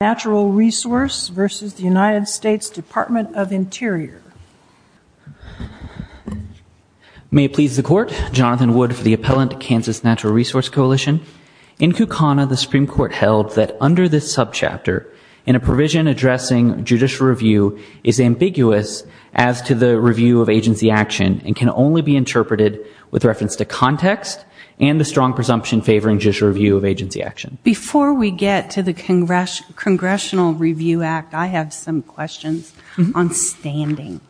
May it please the Court, Jonathan Wood for the Appellant, Kansas Natural Resource Coalition. In Kukana, the Supreme Court held that under this sub-chapter, in a provision addressing judicial review is ambiguous as to the review of agency action and can only be interpreted with reference to context and the strong presumption favoring judicial review of agency action. Before we get to the Congressional Review Act, I have some questions on standing.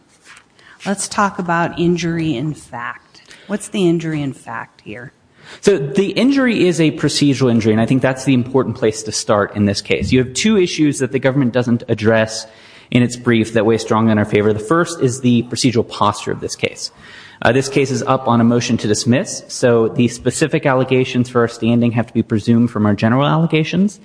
Let's talk about injury in fact. What's the injury in fact here? So the injury is a procedural injury and I think that's the important place to start in this case. You have two issues that the government doesn't address in its brief that weigh strongly in our favor. The first is the procedural posture of this case. This case is up on a motion to dismiss, so the specific allegations for our standing have to be presumed from our general allegations.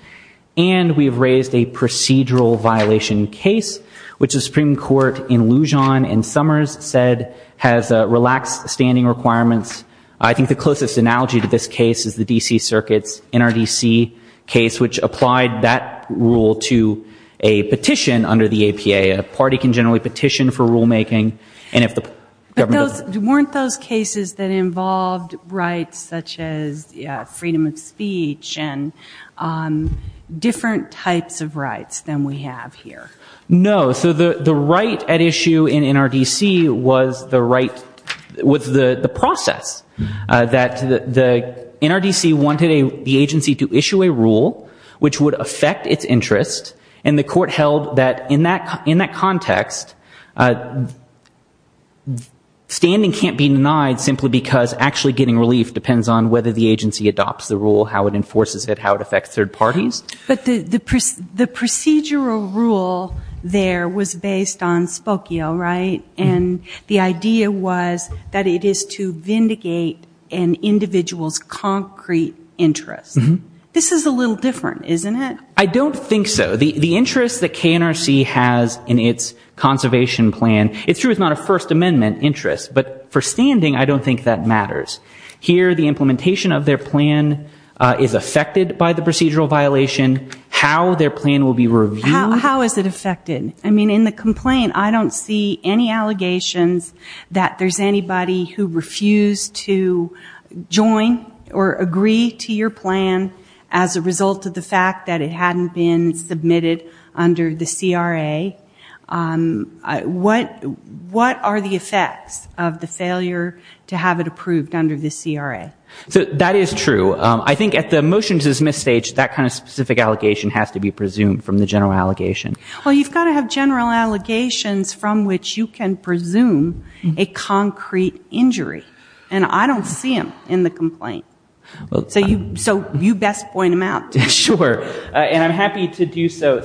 And we've raised a procedural violation case, which the Supreme Court in Lujan and Summers said has relaxed standing requirements. I think the closest analogy to this case is the D.C. Circuit's NRDC case, which applied that rule to a petition under the APA. A party can generally petition for rulemaking and if the government doesn't... But weren't those cases that involved rights such as freedom of speech and different types of rights than we have here? No. So the right at issue in NRDC was the right with the process. The NRDC wanted the agency to issue a rule which would affect its interest and the court held that in that context, standing can't be denied simply because actually getting relief depends on whether the agency adopts the rule, how it enforces it, how it affects third parties. But the procedural rule there was based on Spokio, right? And the idea was that it is to vindicate an individual's concrete interest. This is a little different, isn't it? I don't think so. The interest that KNRC has in its conservation plan, it's true it's not a First Amendment interest, but for standing, I don't think that matters. Here, the implementation of their plan is affected by the procedural violation. How their plan will be reviewed... So if you have general allegations that there's anybody who refused to join or agree to your plan as a result of the fact that it hadn't been submitted under the CRA, what are the effects of the failure to have it approved under the CRA? So that is true. I think at the motion to dismiss stage, that kind of specific allegation has to be presumed from the general allegation. Well, you've got to have general allegations from which you can presume a concrete injury. And I don't see them in the complaint. So you best point them out. Sure. And I'm happy to do so.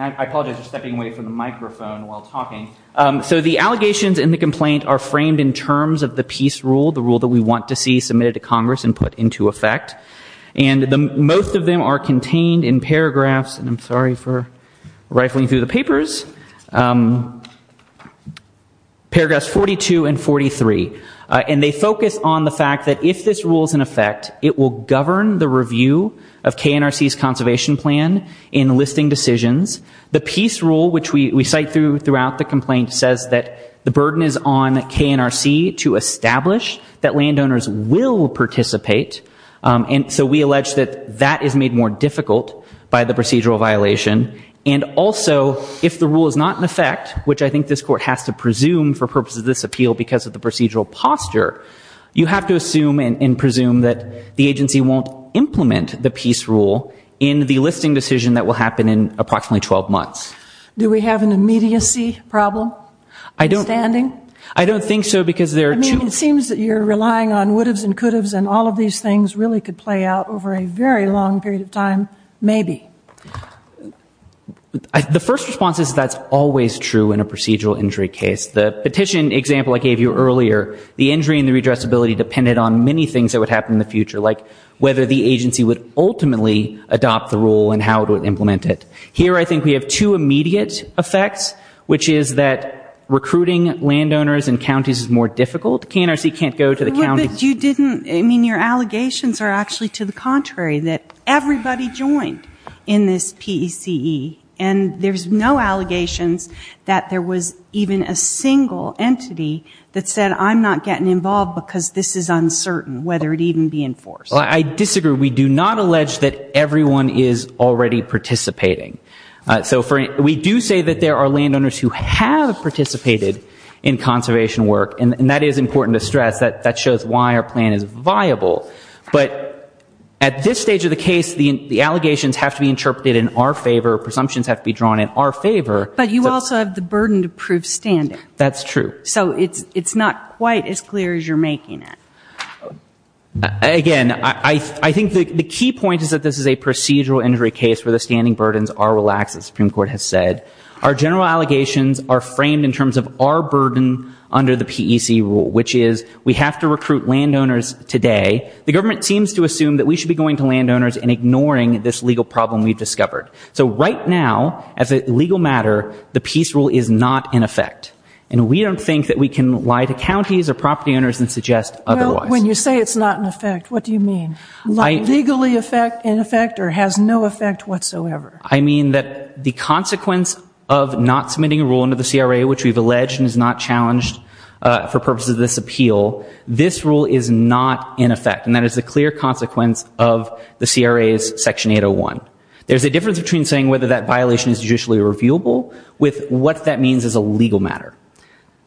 I apologize for stepping away from the microphone while talking. So the allegations in the complaint are framed in terms of the peace rule, the rule that we want to see submitted to Congress and put into effect. And most of them are contained in paragraphs, and I'm sorry for rifling through the papers, paragraphs 42 and 43. And they focus on the fact that if this rule is in effect, it will govern the review of KNRC's conservation plan in listing decisions. The peace rule, which we cite throughout the complaint, says that the burden is on KNRC to establish that landowners will participate in the peace rule. And so we allege that that is made more difficult by the procedural violation. And also, if the rule is not in effect, which I think this Court has to presume for purposes of this appeal because of the procedural posture, you have to assume and presume that the agency won't implement the peace rule in the listing decision that will happen in approximately 12 months. Do we have an immediacy problem? I don't think so, because there are two. I mean, it seems that you're relying on would'ves and could'ves and all of these things really could play out over a very long period of time, maybe. The first response is that's always true in a procedural injury case. The petition example I gave you earlier, the injury and the redressability depended on many things that would happen in the future, like whether the agency would ultimately adopt the rule and how it would implement it. Here I think we have two immediate effects, which is that recruiting landowners in counties is more difficult. KNRC can't go to the county. But you didn't, I mean, your allegations are actually to the contrary, that everybody joined in this PECE, and there's no allegations that there was even a single entity that said I'm not getting involved because this is uncertain, whether it even be enforced. I disagree. We do not allege that everyone is already participating. So we do say that there are landowners who have participated in conservation work, and that is important to stress. That shows why our plan is viable. But at this stage of the case, the allegations have to be interpreted in our favor, presumptions have to be drawn in our favor. But you also have the burden to prove standing. That's true. So it's not quite as clear as you're making it. Again, I think the key point is that this is a procedural injury case where the standing burdens are relaxed, as the Supreme Court has said. Our general allegations are framed in terms of our burden under the PECE rule, which is we have to recruit landowners today. The government seems to assume that we should be going to landowners and ignoring this legal problem we've discovered. So right now, as a legal matter, the PECE rule is not in effect. And we don't think that we can lie to counties or property owners and suggest otherwise. Well, when you say it's not in effect, what do you mean? Legally in effect or has no effect whatsoever? I mean that the consequence of not submitting a rule under the CRA, which we've alleged and is not challenged for purposes of this appeal, this rule is not in effect. And that is a clear consequence of the CRA's Section 801. There's a difference between the CRA's Section 801 and the CRA's Section 801. There's a difference between saying whether that violation is judicially reviewable with what that means as a legal matter.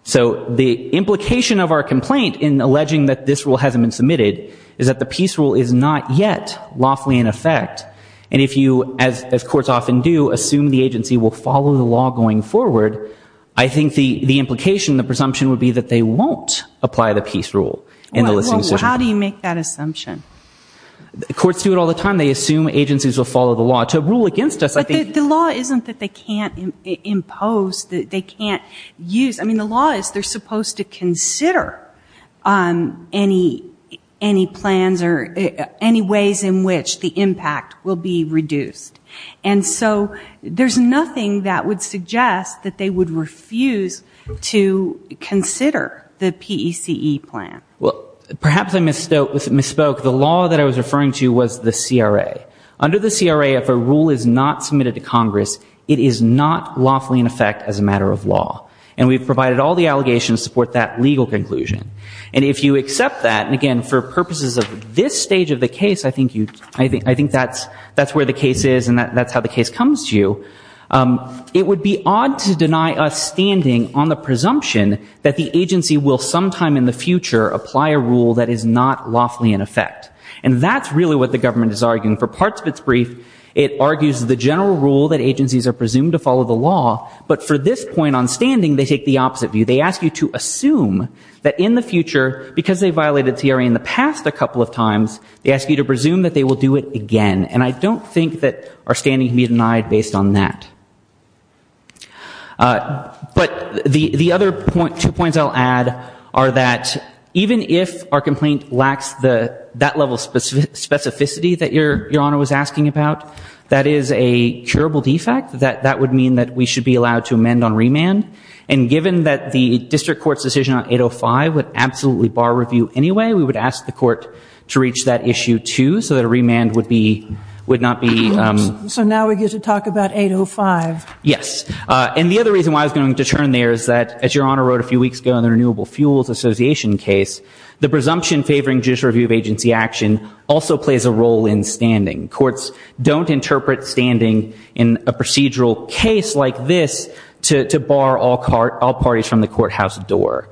So the implication of our complaint in alleging that this rule hasn't been submitted is that the PECE rule is not yet lawfully in effect. And if you, as courts often do, assume the agency will follow the law going forward, I think the implication, the presumption would be that they won't apply the PECE rule in the listening session. Well, how do you make that assumption? Courts do it all the time. They assume agencies will follow the law. To rule against us, I think... But the law isn't that they can't impose, that they can't use. I mean, the law is they're supposed to consider any plans or any ways in which the impact will be reduced. And so there's nothing that would suggest that they would refuse to consider the PECE plan. Well, perhaps I misspoke. The law that I was referring to was the CRA. Under the CRA, if a rule is not submitted to Congress, it is not lawfully in effect as a matter of law. And we've provided all the allegations to support that legal conclusion. And if you accept that, and again, for purposes of this stage of the case, I think that's where the case is and that's how the case comes to you, it would be odd to deny us standing on the presumption that the agency will sometime in the future apply the PECE rule. Apply a rule that is not lawfully in effect. And that's really what the government is arguing. For parts of its brief, it argues the general rule that agencies are presumed to follow the law, but for this point on standing, they take the opposite view. They ask you to assume that in the future, because they violated CRA in the past a couple of times, they ask you to presume that they will do it again. And I don't think that our standing can be denied based on that. But the other two points I'll add are that even if our complaint lacks that level of specificity that Your Honor was asking about, that is a curable defect, that would mean that we should be allowed to amend on remand. And given that the district court's decision on 805 would absolutely bar review anyway, we would ask the court to reach that issue, too, so that a remand would not be... So now we get to talk about 805. Yes. And the other reason why I was going to turn there is that, as Your Honor wrote a few weeks ago in the Renewable Fuels Association case, the presumption favoring judicial review of agency action also plays a role in standing. Courts don't interpret standing in a procedural case like this to bar all parties from the courthouse door,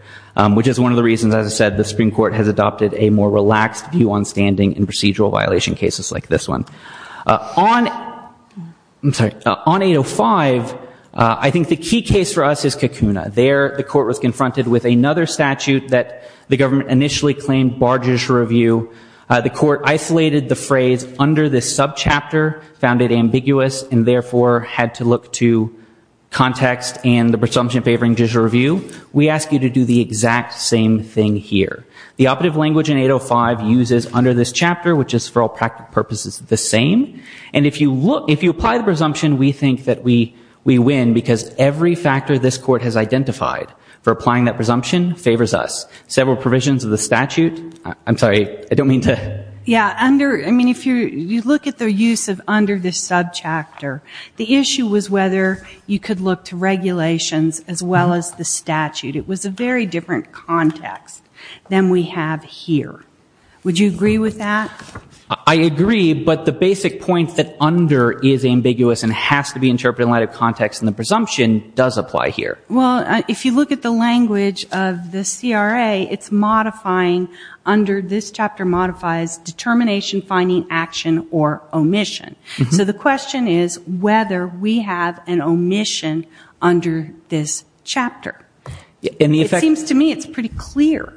which is one of the reasons, as I said, the Supreme Court has adopted a more relaxed view on standing in procedural violation cases like this one. On 805, I think the key case for us is Kakuna. There the court was confronted with another statute that the government initially claimed barred judicial review. The court isolated the phrase under this subchapter, found it ambiguous, and therefore had to look to context and the presumption favoring judicial review. We ask you to do the exact same thing here. The operative language in 805 uses under this chapter, which is for all practical purposes the same. And if you apply the presumption, we think that we win, because every factor this court has identified for applying that presumption favors us. Several provisions of the statute... I'm sorry, I don't mean to... Yeah, under... I mean, if you look at their use of under this subchapter, the issue was whether you could look to regulations as well as the statute. It was a very different context than we have here. Would you agree with that? I agree, but the basic point that under is ambiguous and has to be interpreted in light of context and the presumption does apply here. Well, if you look at the language of the CRA, it's modifying under this chapter modifies determination, finding, action, or omission. So the question is whether we have an omission under this chapter. And the effect... It seems to me it's pretty clear.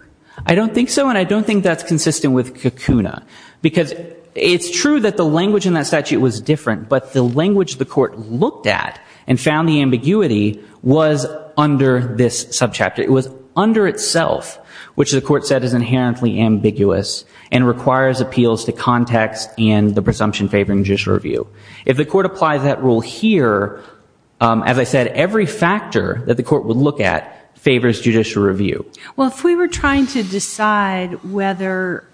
I don't think so, and I don't think that's consistent with Kukuna. Because it's true that the language in that statute was different, but the language the court looked at and found the ambiguity was under this subchapter. It was under itself, which the court said is inherently ambiguous and requires appeals to context and the presumption favoring judicial review. If the court applies that rule here, as I said, every factor that the court would look at favors judicial review. Well, if we were trying to decide whether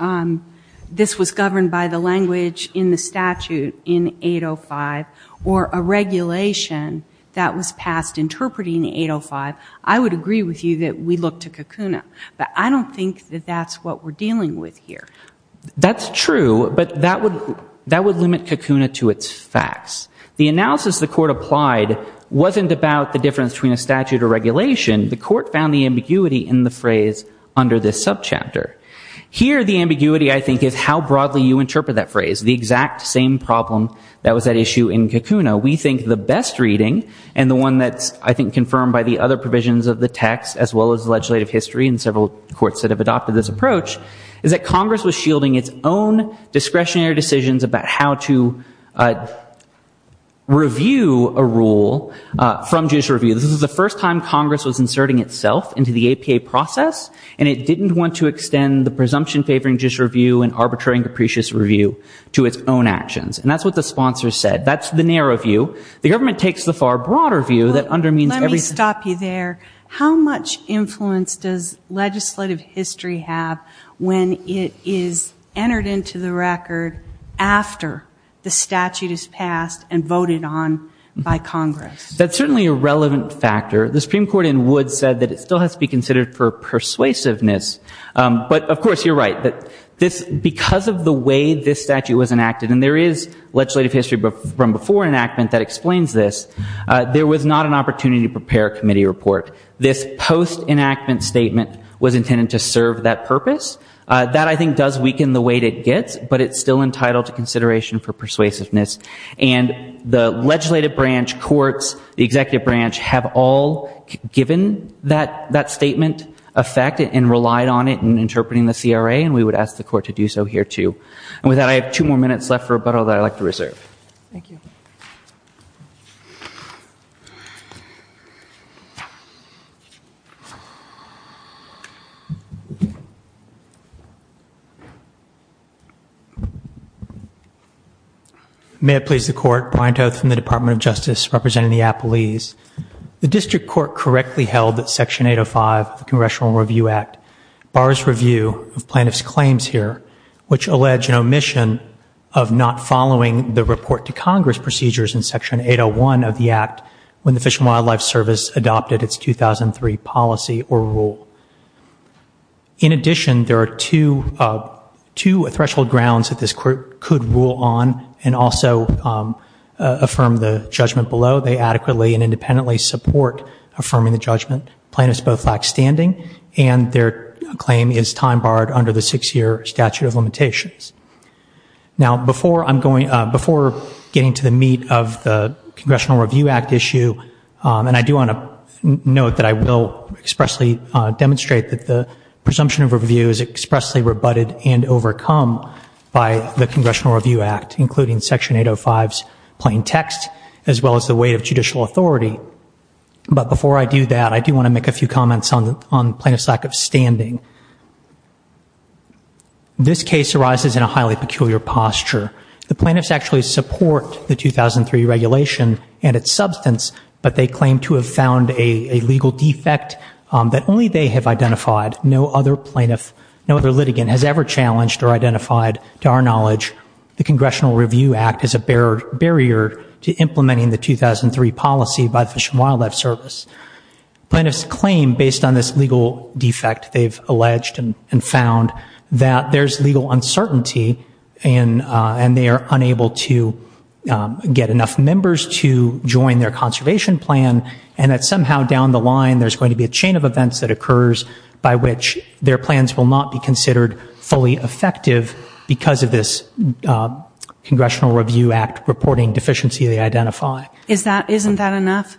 this was governed by the language in the statute in 805 or a regulation that was passed interpreting 805, I would agree with you that we look to Kukuna. But I don't think that that's what we're dealing with here. That's true, but that would limit Kukuna to its facts. The analysis the court applied wasn't about the difference between a statute or regulation. The court found the ambiguity in the phrase under this subchapter. Here, the ambiguity, I think, is how broadly you interpret that phrase, the exact same problem that was at issue in Kukuna. We think the best reading, and the one that's, I think, confirmed by the other provisions of the text, as well as the legislative history and several courts that have adopted this approach, is that Congress was shielding its own discretionary decisions about how to review a rule from judicial review. This is the first time Congress was inserting itself into the APA process, and it didn't want to extend the presumption favoring judicial review and arbitrary and capricious review to its own actions. And that's what the sponsor said. That's the narrow view. The government takes the far broader view that undermines everything. Let me stop you there. How much influence does legislative history have when it is entered into the record after the statute is passed and voted on by Congress? That's certainly a relevant factor. The Supreme Court in Woods said that it still has to be considered for persuasiveness. But, of course, you're right. Because of the way this statute was enacted, and there is legislative history from before enactment that explains this, there was not an opportunity to prepare a committee report. This post-enactment statement was intended to serve that purpose. That, I think, does weaken the weight it gets, but it's still entitled to consideration for persuasiveness. And the legislative branch, courts, the executive branch have all given that statement effect and relied on it in interpreting the CRA, and we would ask the court to do so here, too. And with that, I have two more minutes left for rebuttal that I'd like to reserve. Thank you. Thank you. May it please the Court. Brian Toth from the Department of Justice representing the Appalese. The district court correctly held that Section 805 of the Congressional Review Act bars review of plaintiffs' claims here, which allege an omission of not following the report to Congress procedures in Section 801 of the Act when the Fish and Wildlife Service adopted its 2003 policy or rule. In addition, there are two threshold grounds that this Court could rule on and also affirm the judgment below. They adequately and independently support affirming the judgment. Plaintiffs both lack standing, and their claim is time barred under the six-year statute of limitations. Now, before getting to the meat of the Congressional Review Act issue, and I do want to note that I will expressly demonstrate that the presumption of review is expressly rebutted and overcome by the Congressional Review Act, including Section 805's plain text, as well as the weight of judicial authority. But before I do that, I do want to make a few comments on plaintiffs' lack of standing. This case arises in a highly peculiar posture. The plaintiffs actually support the 2003 regulation and its substance, but they claim to have found a legal defect that only they have identified. No other litigant has ever challenged or identified, to our knowledge, the Congressional Review Act as a barrier to implementing the 2003 policy by the Fish and Wildlife Service. Plaintiffs claim, based on this legal defect they've alleged and found, that there's legal uncertainty and they are unable to get enough members to join their conservation plan, and that somehow down the line there's going to be a chain of events that occurs by which their plans will not be considered fully effective because of this Congressional Review Act reporting deficiency they identify. Isn't that enough?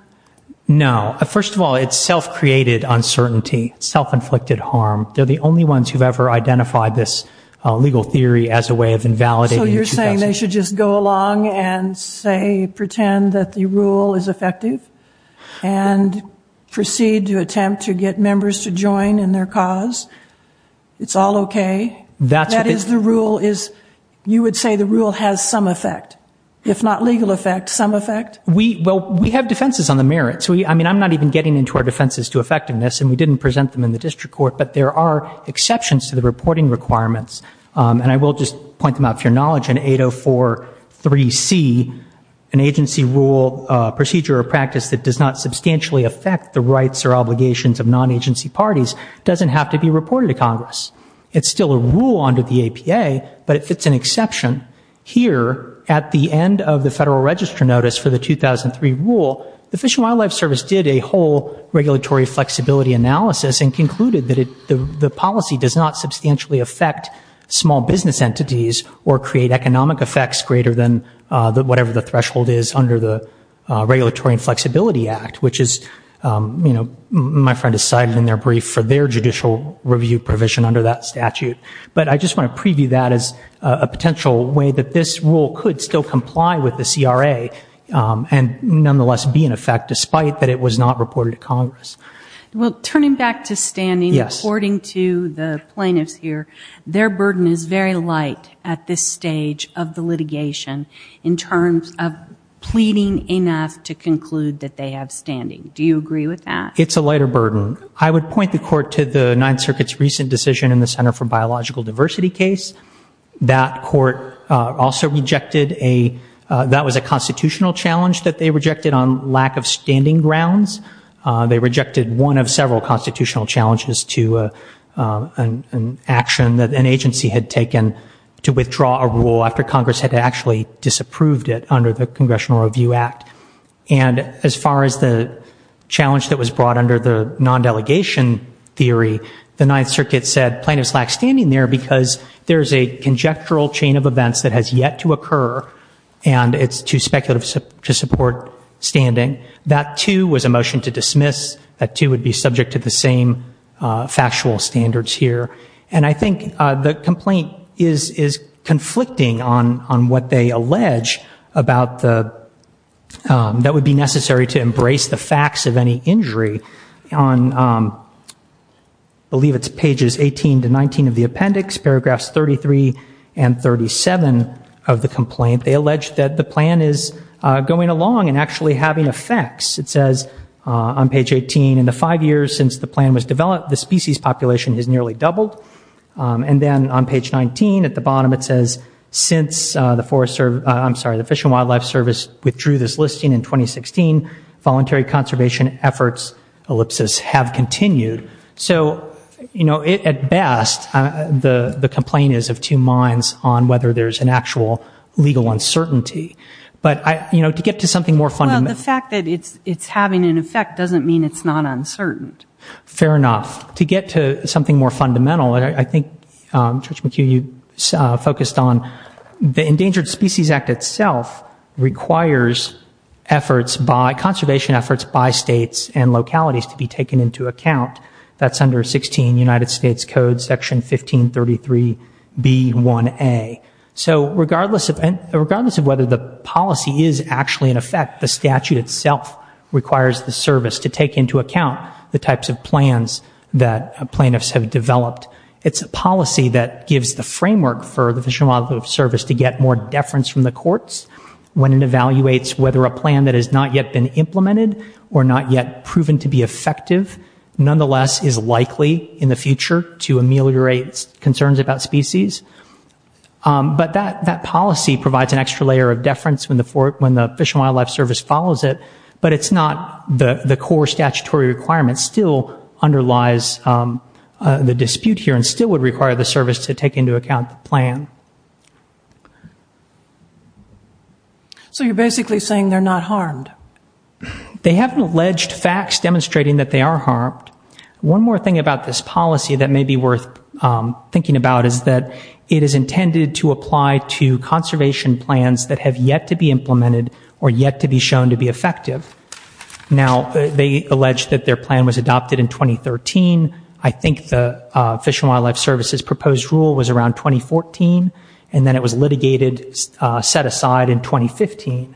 No. First of all, it's self-created uncertainty, self-inflicted harm. They're the only ones who've ever identified this legal theory as a way of invalidating the 2000s. So you're saying they should just go along and, say, pretend that the rule is effective and proceed to attempt to get members to join in their cause? It's all okay? That's what it is. That is the rule is, you would say the rule has some effect, if not legal effect, some effect? Well, we have defenses on the merits. I mean, I'm not even getting into our defenses to effectiveness, and we didn't present them in the district court, but there are exceptions to the reporting requirements. And I will just point them out for your knowledge. In 804.3c, an agency rule procedure or practice that does not substantially affect the rights or obligations of non-agency parties doesn't have to be reported to Congress. It's still a rule under the APA, but it fits an exception. Here, at the end of the Federal Register Notice for the 2003 rule, the Fish and Wildlife Service did a whole regulatory flexibility analysis and concluded that the policy does not substantially affect small business entities or create economic effects greater than whatever the threshold is under the Regulatory Flexibility Act, which my friend has cited in their brief for their judicial review provision under that statute. But I just want to preview that as a potential way that this rule could still comply with the CRA and nonetheless be in effect despite that it was not reported to Congress. Well, turning back to standing, according to the plaintiffs here, their burden is very light at this stage of the litigation in terms of pleading enough to conclude that they have standing. Do you agree with that? It's a lighter burden. I would point the Court to the Ninth Circuit's recent decision in the Center for Biological Diversity case. That Court also rejected a constitutional challenge that they rejected on lack of standing grounds. They rejected one of several constitutional challenges to an action that an agency had taken to withdraw a rule after Congress had actually disapproved it under the Congressional Review Act. And as far as the challenge that was brought under the non-delegation theory, the Ninth Circuit said plaintiffs lack standing there because there is a conjectural chain of events that has yet to occur and it's too speculative to support standing. That, too, was a motion to dismiss. That, too, would be subject to the same factual standards here. And I think the complaint is conflicting on what they allege that would be necessary to embrace the facts of any injury. On, I believe it's pages 18 to 19 of the appendix, paragraphs 33 and 37 of the complaint, they allege that the plan is going along and actually having effects. It says on page 18, in the five years since the plan was developed, the species population has nearly doubled. And then on page 19 at the bottom, it says, since the Fish and Wildlife Service withdrew this listing in 2016, voluntary conservation efforts, ellipsis, have continued. So, you know, at best, the complaint is of two minds on whether there's an actual legal uncertainty. But, you know, to get to something more fundamental. But the fact that it's having an effect doesn't mean it's not uncertain. Fair enough. To get to something more fundamental, and I think, Judge McHugh, you focused on the Endangered Species Act itself requires efforts by, conservation efforts by states and localities to be taken into account. That's under 16 United States Code section 1533B1A. So regardless of whether the policy is actually in effect, the statute itself requires the service to take into account the types of plans that plaintiffs have developed. It's a policy that gives the framework for the Fish and Wildlife Service to get more deference from the courts. When it evaluates whether a plan that has not yet been implemented or not yet proven to be effective, nonetheless is likely in the future to ameliorate concerns about species. But that policy provides an extra layer of deference when the Fish and Wildlife Service follows it, but it's not the core statutory requirement. It still underlies the dispute here and still would require the service to take into account the plan. So you're basically saying they're not harmed? They haven't alleged facts demonstrating that they are harmed. One more thing about this policy that may be worth thinking about is that it is intended to apply to conservation plans that have yet to be implemented or yet to be shown to be effective. Now, they allege that their plan was adopted in 2013. I think the Fish and Wildlife Service's proposed rule was around 2014, and then it was litigated, set aside in 2015.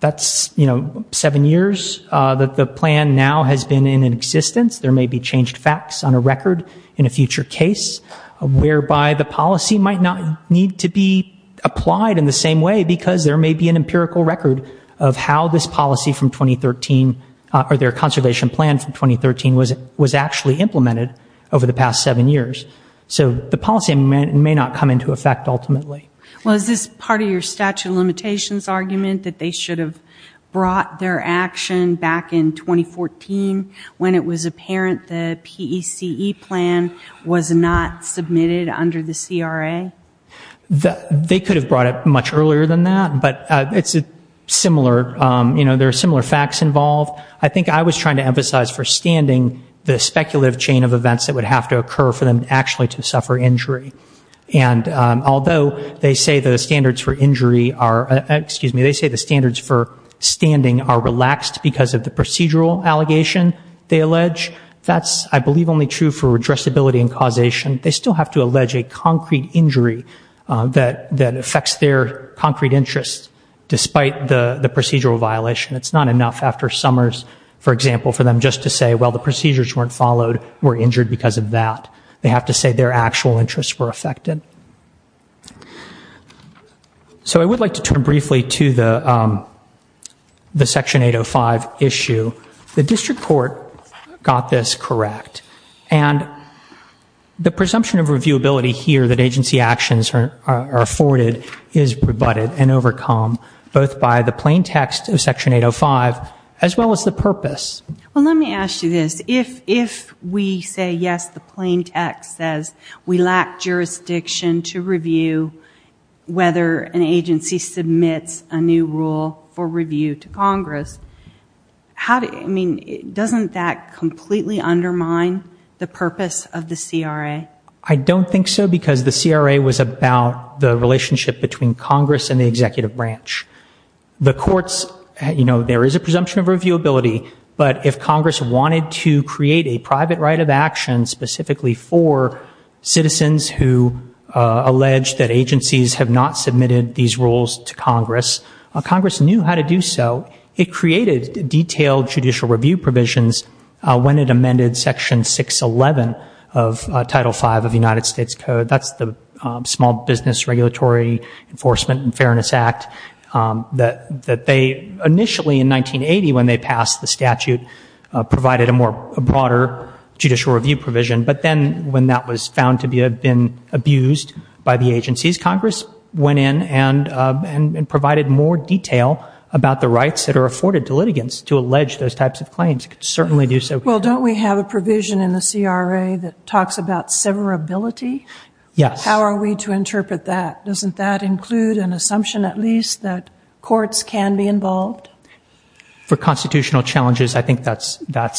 That's seven years that the plan now has been in existence. There may be changed facts on a record in a future case whereby the policy might not need to be applied in the same way because there may be an empirical record of how this policy from 2013 or their conservation plan from 2013 was actually implemented over the past seven years. So the policy may not come into effect ultimately. Well, is this part of your statute of limitations argument that they should have brought their action back in 2014 when it was apparent the PECE plan was not submitted under the CRA? They could have brought it much earlier than that, but it's similar. There are similar facts involved. I think I was trying to emphasize for standing the speculative chain of events that would have to occur for them actually to suffer injury. And although they say the standards for injury are, excuse me, they say the standards for standing are relaxed because of the procedural allegation they allege, that's, I believe, only true for addressability and causation. They still have to allege a concrete injury that affects their concrete interests, despite the procedural violation. It's not enough after summers, for example, for them just to say, well, the procedures weren't followed, we're injured because of that. They have to say their actual interests were affected. So I would like to turn briefly to the Section 805 issue. The district court got this correct, and the presumption of reviewability here that agency actions are afforded is rebutted and overcome both by the plain text of Section 805 as well as the purpose. Well, let me ask you this. If we say, yes, the plain text says we lack jurisdiction to review whether an agency submits a new rule for review to Congress, doesn't that completely undermine the purpose of the CRA? I don't think so because the CRA was about the relationship between Congress and the executive branch. The courts, you know, there is a presumption of reviewability, but if Congress wanted to create a private right of action specifically for citizens who allege that agencies have not submitted these rules to Congress, Congress knew how to do so. It created detailed judicial review provisions when it amended Section 611 of Title V of the United States Code. That's the Small Business Regulatory Enforcement and Fairness Act that they initially in 1980, when they passed the statute, provided a more broader judicial review provision. But then when that was found to have been abused by the agencies, Congress went in and provided more detail about the rights that are afforded to litigants to allege those types of claims. It could certainly do so. Well, don't we have a provision in the CRA that talks about severability? Yes. How are we to interpret that? Doesn't that include an assumption at least that courts can be involved? For constitutional challenges, I think that's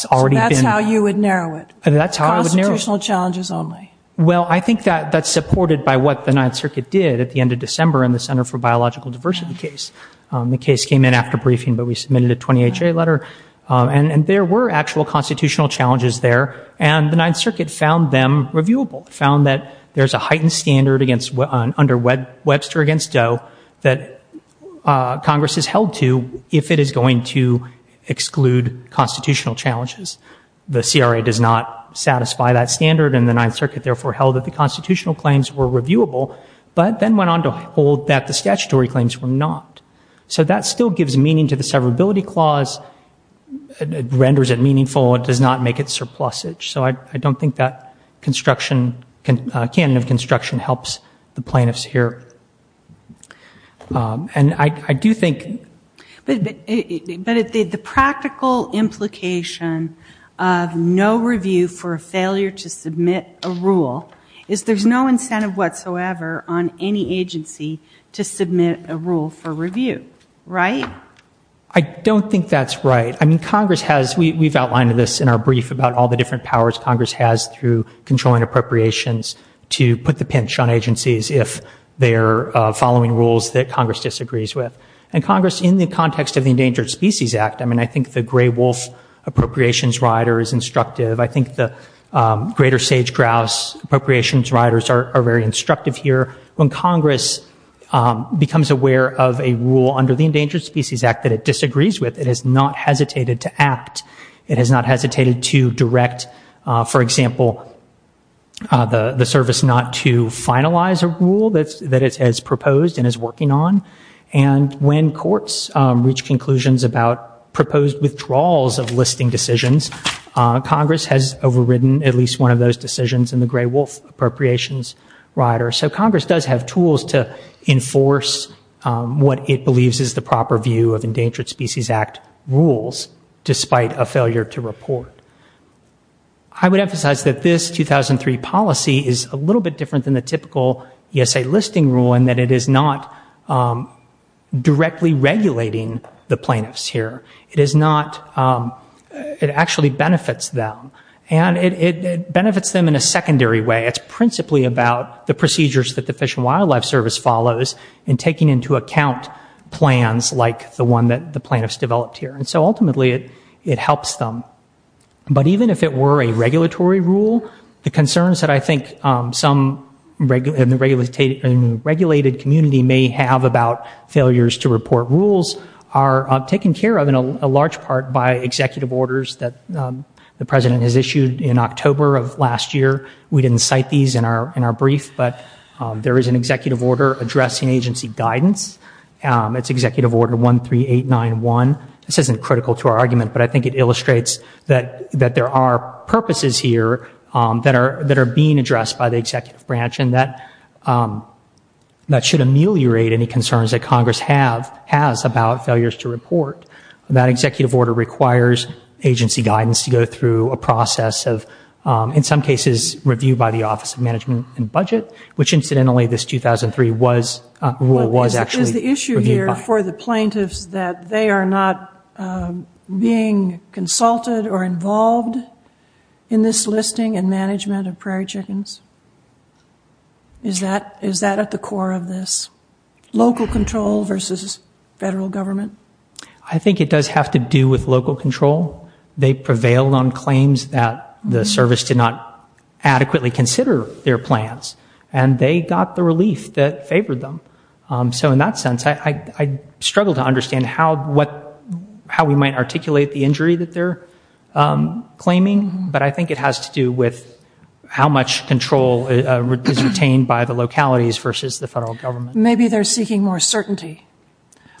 already been- So that's how you would narrow it? That's how I would narrow it. Constitutional challenges only. Well, I think that's supported by what the Ninth Circuit did at the end of December in the Center for Biological Diversity case. The case came in after briefing, but we submitted a 20HA letter. And there were actual constitutional challenges there, and the Ninth Circuit found them reviewable, found that there's a heightened standard under Webster against Doe that Congress is held to if it is going to exclude constitutional challenges. The CRA does not satisfy that standard, and the Ninth Circuit, therefore, held that the constitutional claims were reviewable, but then went on to hold that the statutory claims were not. So that still gives meaning to the severability clause. It renders it meaningful. It does not make it surplusage. So I don't think that construction, canon of construction, helps the plaintiffs here. And I do think- Okay, but the practical implication of no review for a failure to submit a rule is there's no incentive whatsoever on any agency to submit a rule for review, right? I don't think that's right. I mean, Congress has-we've outlined this in our brief about all the different powers Congress has through controlling appropriations to put the pinch on agencies if they're following rules that Congress disagrees with. And Congress, in the context of the Endangered Species Act-I mean, I think the Gray Wolf Appropriations Rider is instructive. I think the Greater Sage Grouse Appropriations Riders are very instructive here. When Congress becomes aware of a rule under the Endangered Species Act that it disagrees with, it has not hesitated to act. It has not hesitated to direct, for example, the service not to finalize a rule that it has proposed and is working on. And when courts reach conclusions about proposed withdrawals of listing decisions, Congress has overridden at least one of those decisions in the Gray Wolf Appropriations Rider. So Congress does have tools to enforce what it believes is the proper view of Endangered Species Act rules, despite a failure to report. I would emphasize that this 2003 policy is a little bit different than the typical ESA listing rule in that it is not directly regulating the plaintiffs here. It is not-it actually benefits them. And it benefits them in a secondary way. It's principally about the procedures that the Fish and Wildlife Service follows in taking into account plans like the one that the plaintiffs developed here. And so ultimately it helps them. But even if it were a regulatory rule, the concerns that I think some in the regulated community may have about failures to report rules are taken care of in a large part by executive orders that the President has issued in October of last year. We didn't cite these in our brief, but there is an executive order addressing agency guidance. It's Executive Order 13891. This isn't critical to our argument, but I think it illustrates that there are purposes here that are being addressed by the executive branch and that should ameliorate any concerns that Congress has about failures to report. That executive order requires agency guidance to go through a process of, in some cases, review by the Office of Management and Budget, which incidentally this 2003 rule was actually reviewed by. Is it fair for the plaintiffs that they are not being consulted or involved in this listing and management of prairie chickens? Is that at the core of this? Local control versus federal government? I think it does have to do with local control. They prevailed on claims that the service did not adequately consider their plans, and they got the relief that favored them. So in that sense, I struggle to understand how we might articulate the injury that they're claiming, but I think it has to do with how much control is retained by the localities versus the federal government. Maybe they're seeking more certainty,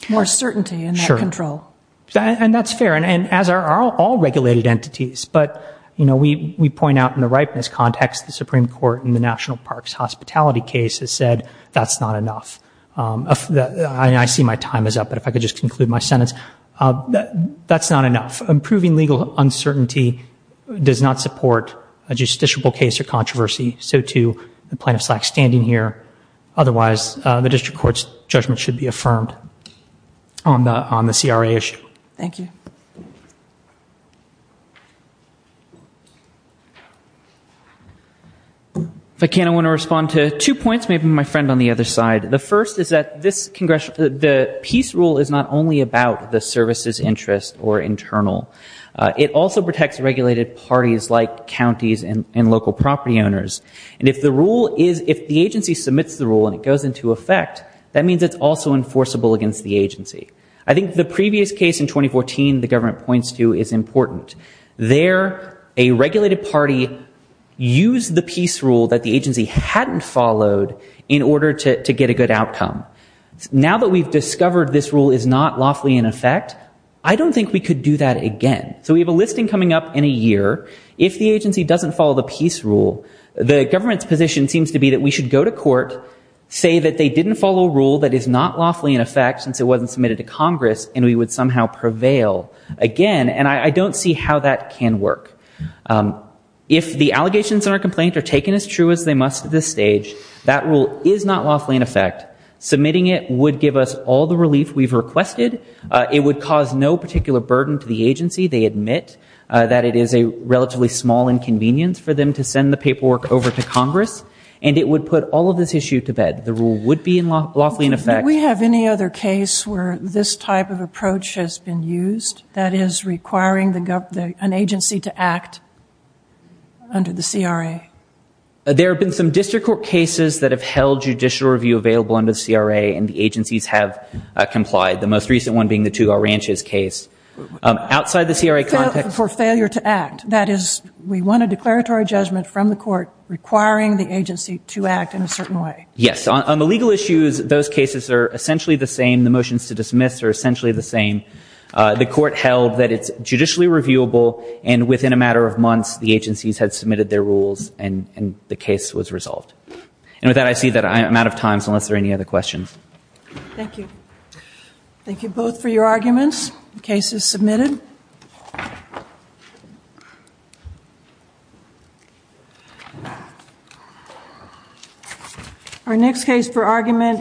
more certainty in that control. Sure. And that's fair, and as are all regulated entities. But, you know, we point out in the ripeness context, the Supreme Court in the National Parks Hospitality case has said that's not enough. I see my time is up, but if I could just conclude my sentence. That's not enough. Improving legal uncertainty does not support a justiciable case or controversy. So, too, the plaintiff's not standing here. Otherwise, the district court's judgment should be affirmed on the CRA issue. Thank you. If I can, I want to respond to two points, maybe my friend on the other side. The first is that the peace rule is not only about the service's interest or internal. It also protects regulated parties like counties and local property owners. And if the agency submits the rule and it goes into effect, that means it's also enforceable against the agency. I think the previous case in 2014 the government points to is important. There, a regulated party used the peace rule that the agency hadn't followed in order to get a good outcome. Now that we've discovered this rule is not lawfully in effect, I don't think we could do that again. So we have a listing coming up in a year. If the agency doesn't follow the peace rule, the government's position seems to be that we should go to court, say that they didn't follow a rule that is not lawfully in effect since it wasn't submitted to Congress, and we would somehow prevail again. And I don't see how that can work. If the allegations in our complaint are taken as true as they must at this stage, that rule is not lawfully in effect. Submitting it would give us all the relief we've requested. It would cause no particular burden to the agency. They admit that it is a relatively small inconvenience for them to send the paperwork over to Congress. And it would put all of this issue to bed. The rule would be lawfully in effect. Do we have any other case where this type of approach has been used? That is, requiring an agency to act under the CRA? There have been some district court cases that have held judicial review available under the CRA, and the agencies have complied, the most recent one being the Tugaw Ranches case. Outside the CRA context? For failure to act. That is, we want a declaratory judgment from the court requiring the agency to act in a certain way. Yes. On the legal issues, those cases are essentially the same. The motions to dismiss are essentially the same. The court held that it's judicially reviewable, and within a matter of months, the agencies had submitted their rules and the case was resolved. And with that, I see that I'm out of time, so unless there are any other questions. Thank you. Thank you both for your arguments. The case is submitted. Thank you. Our next case for argument.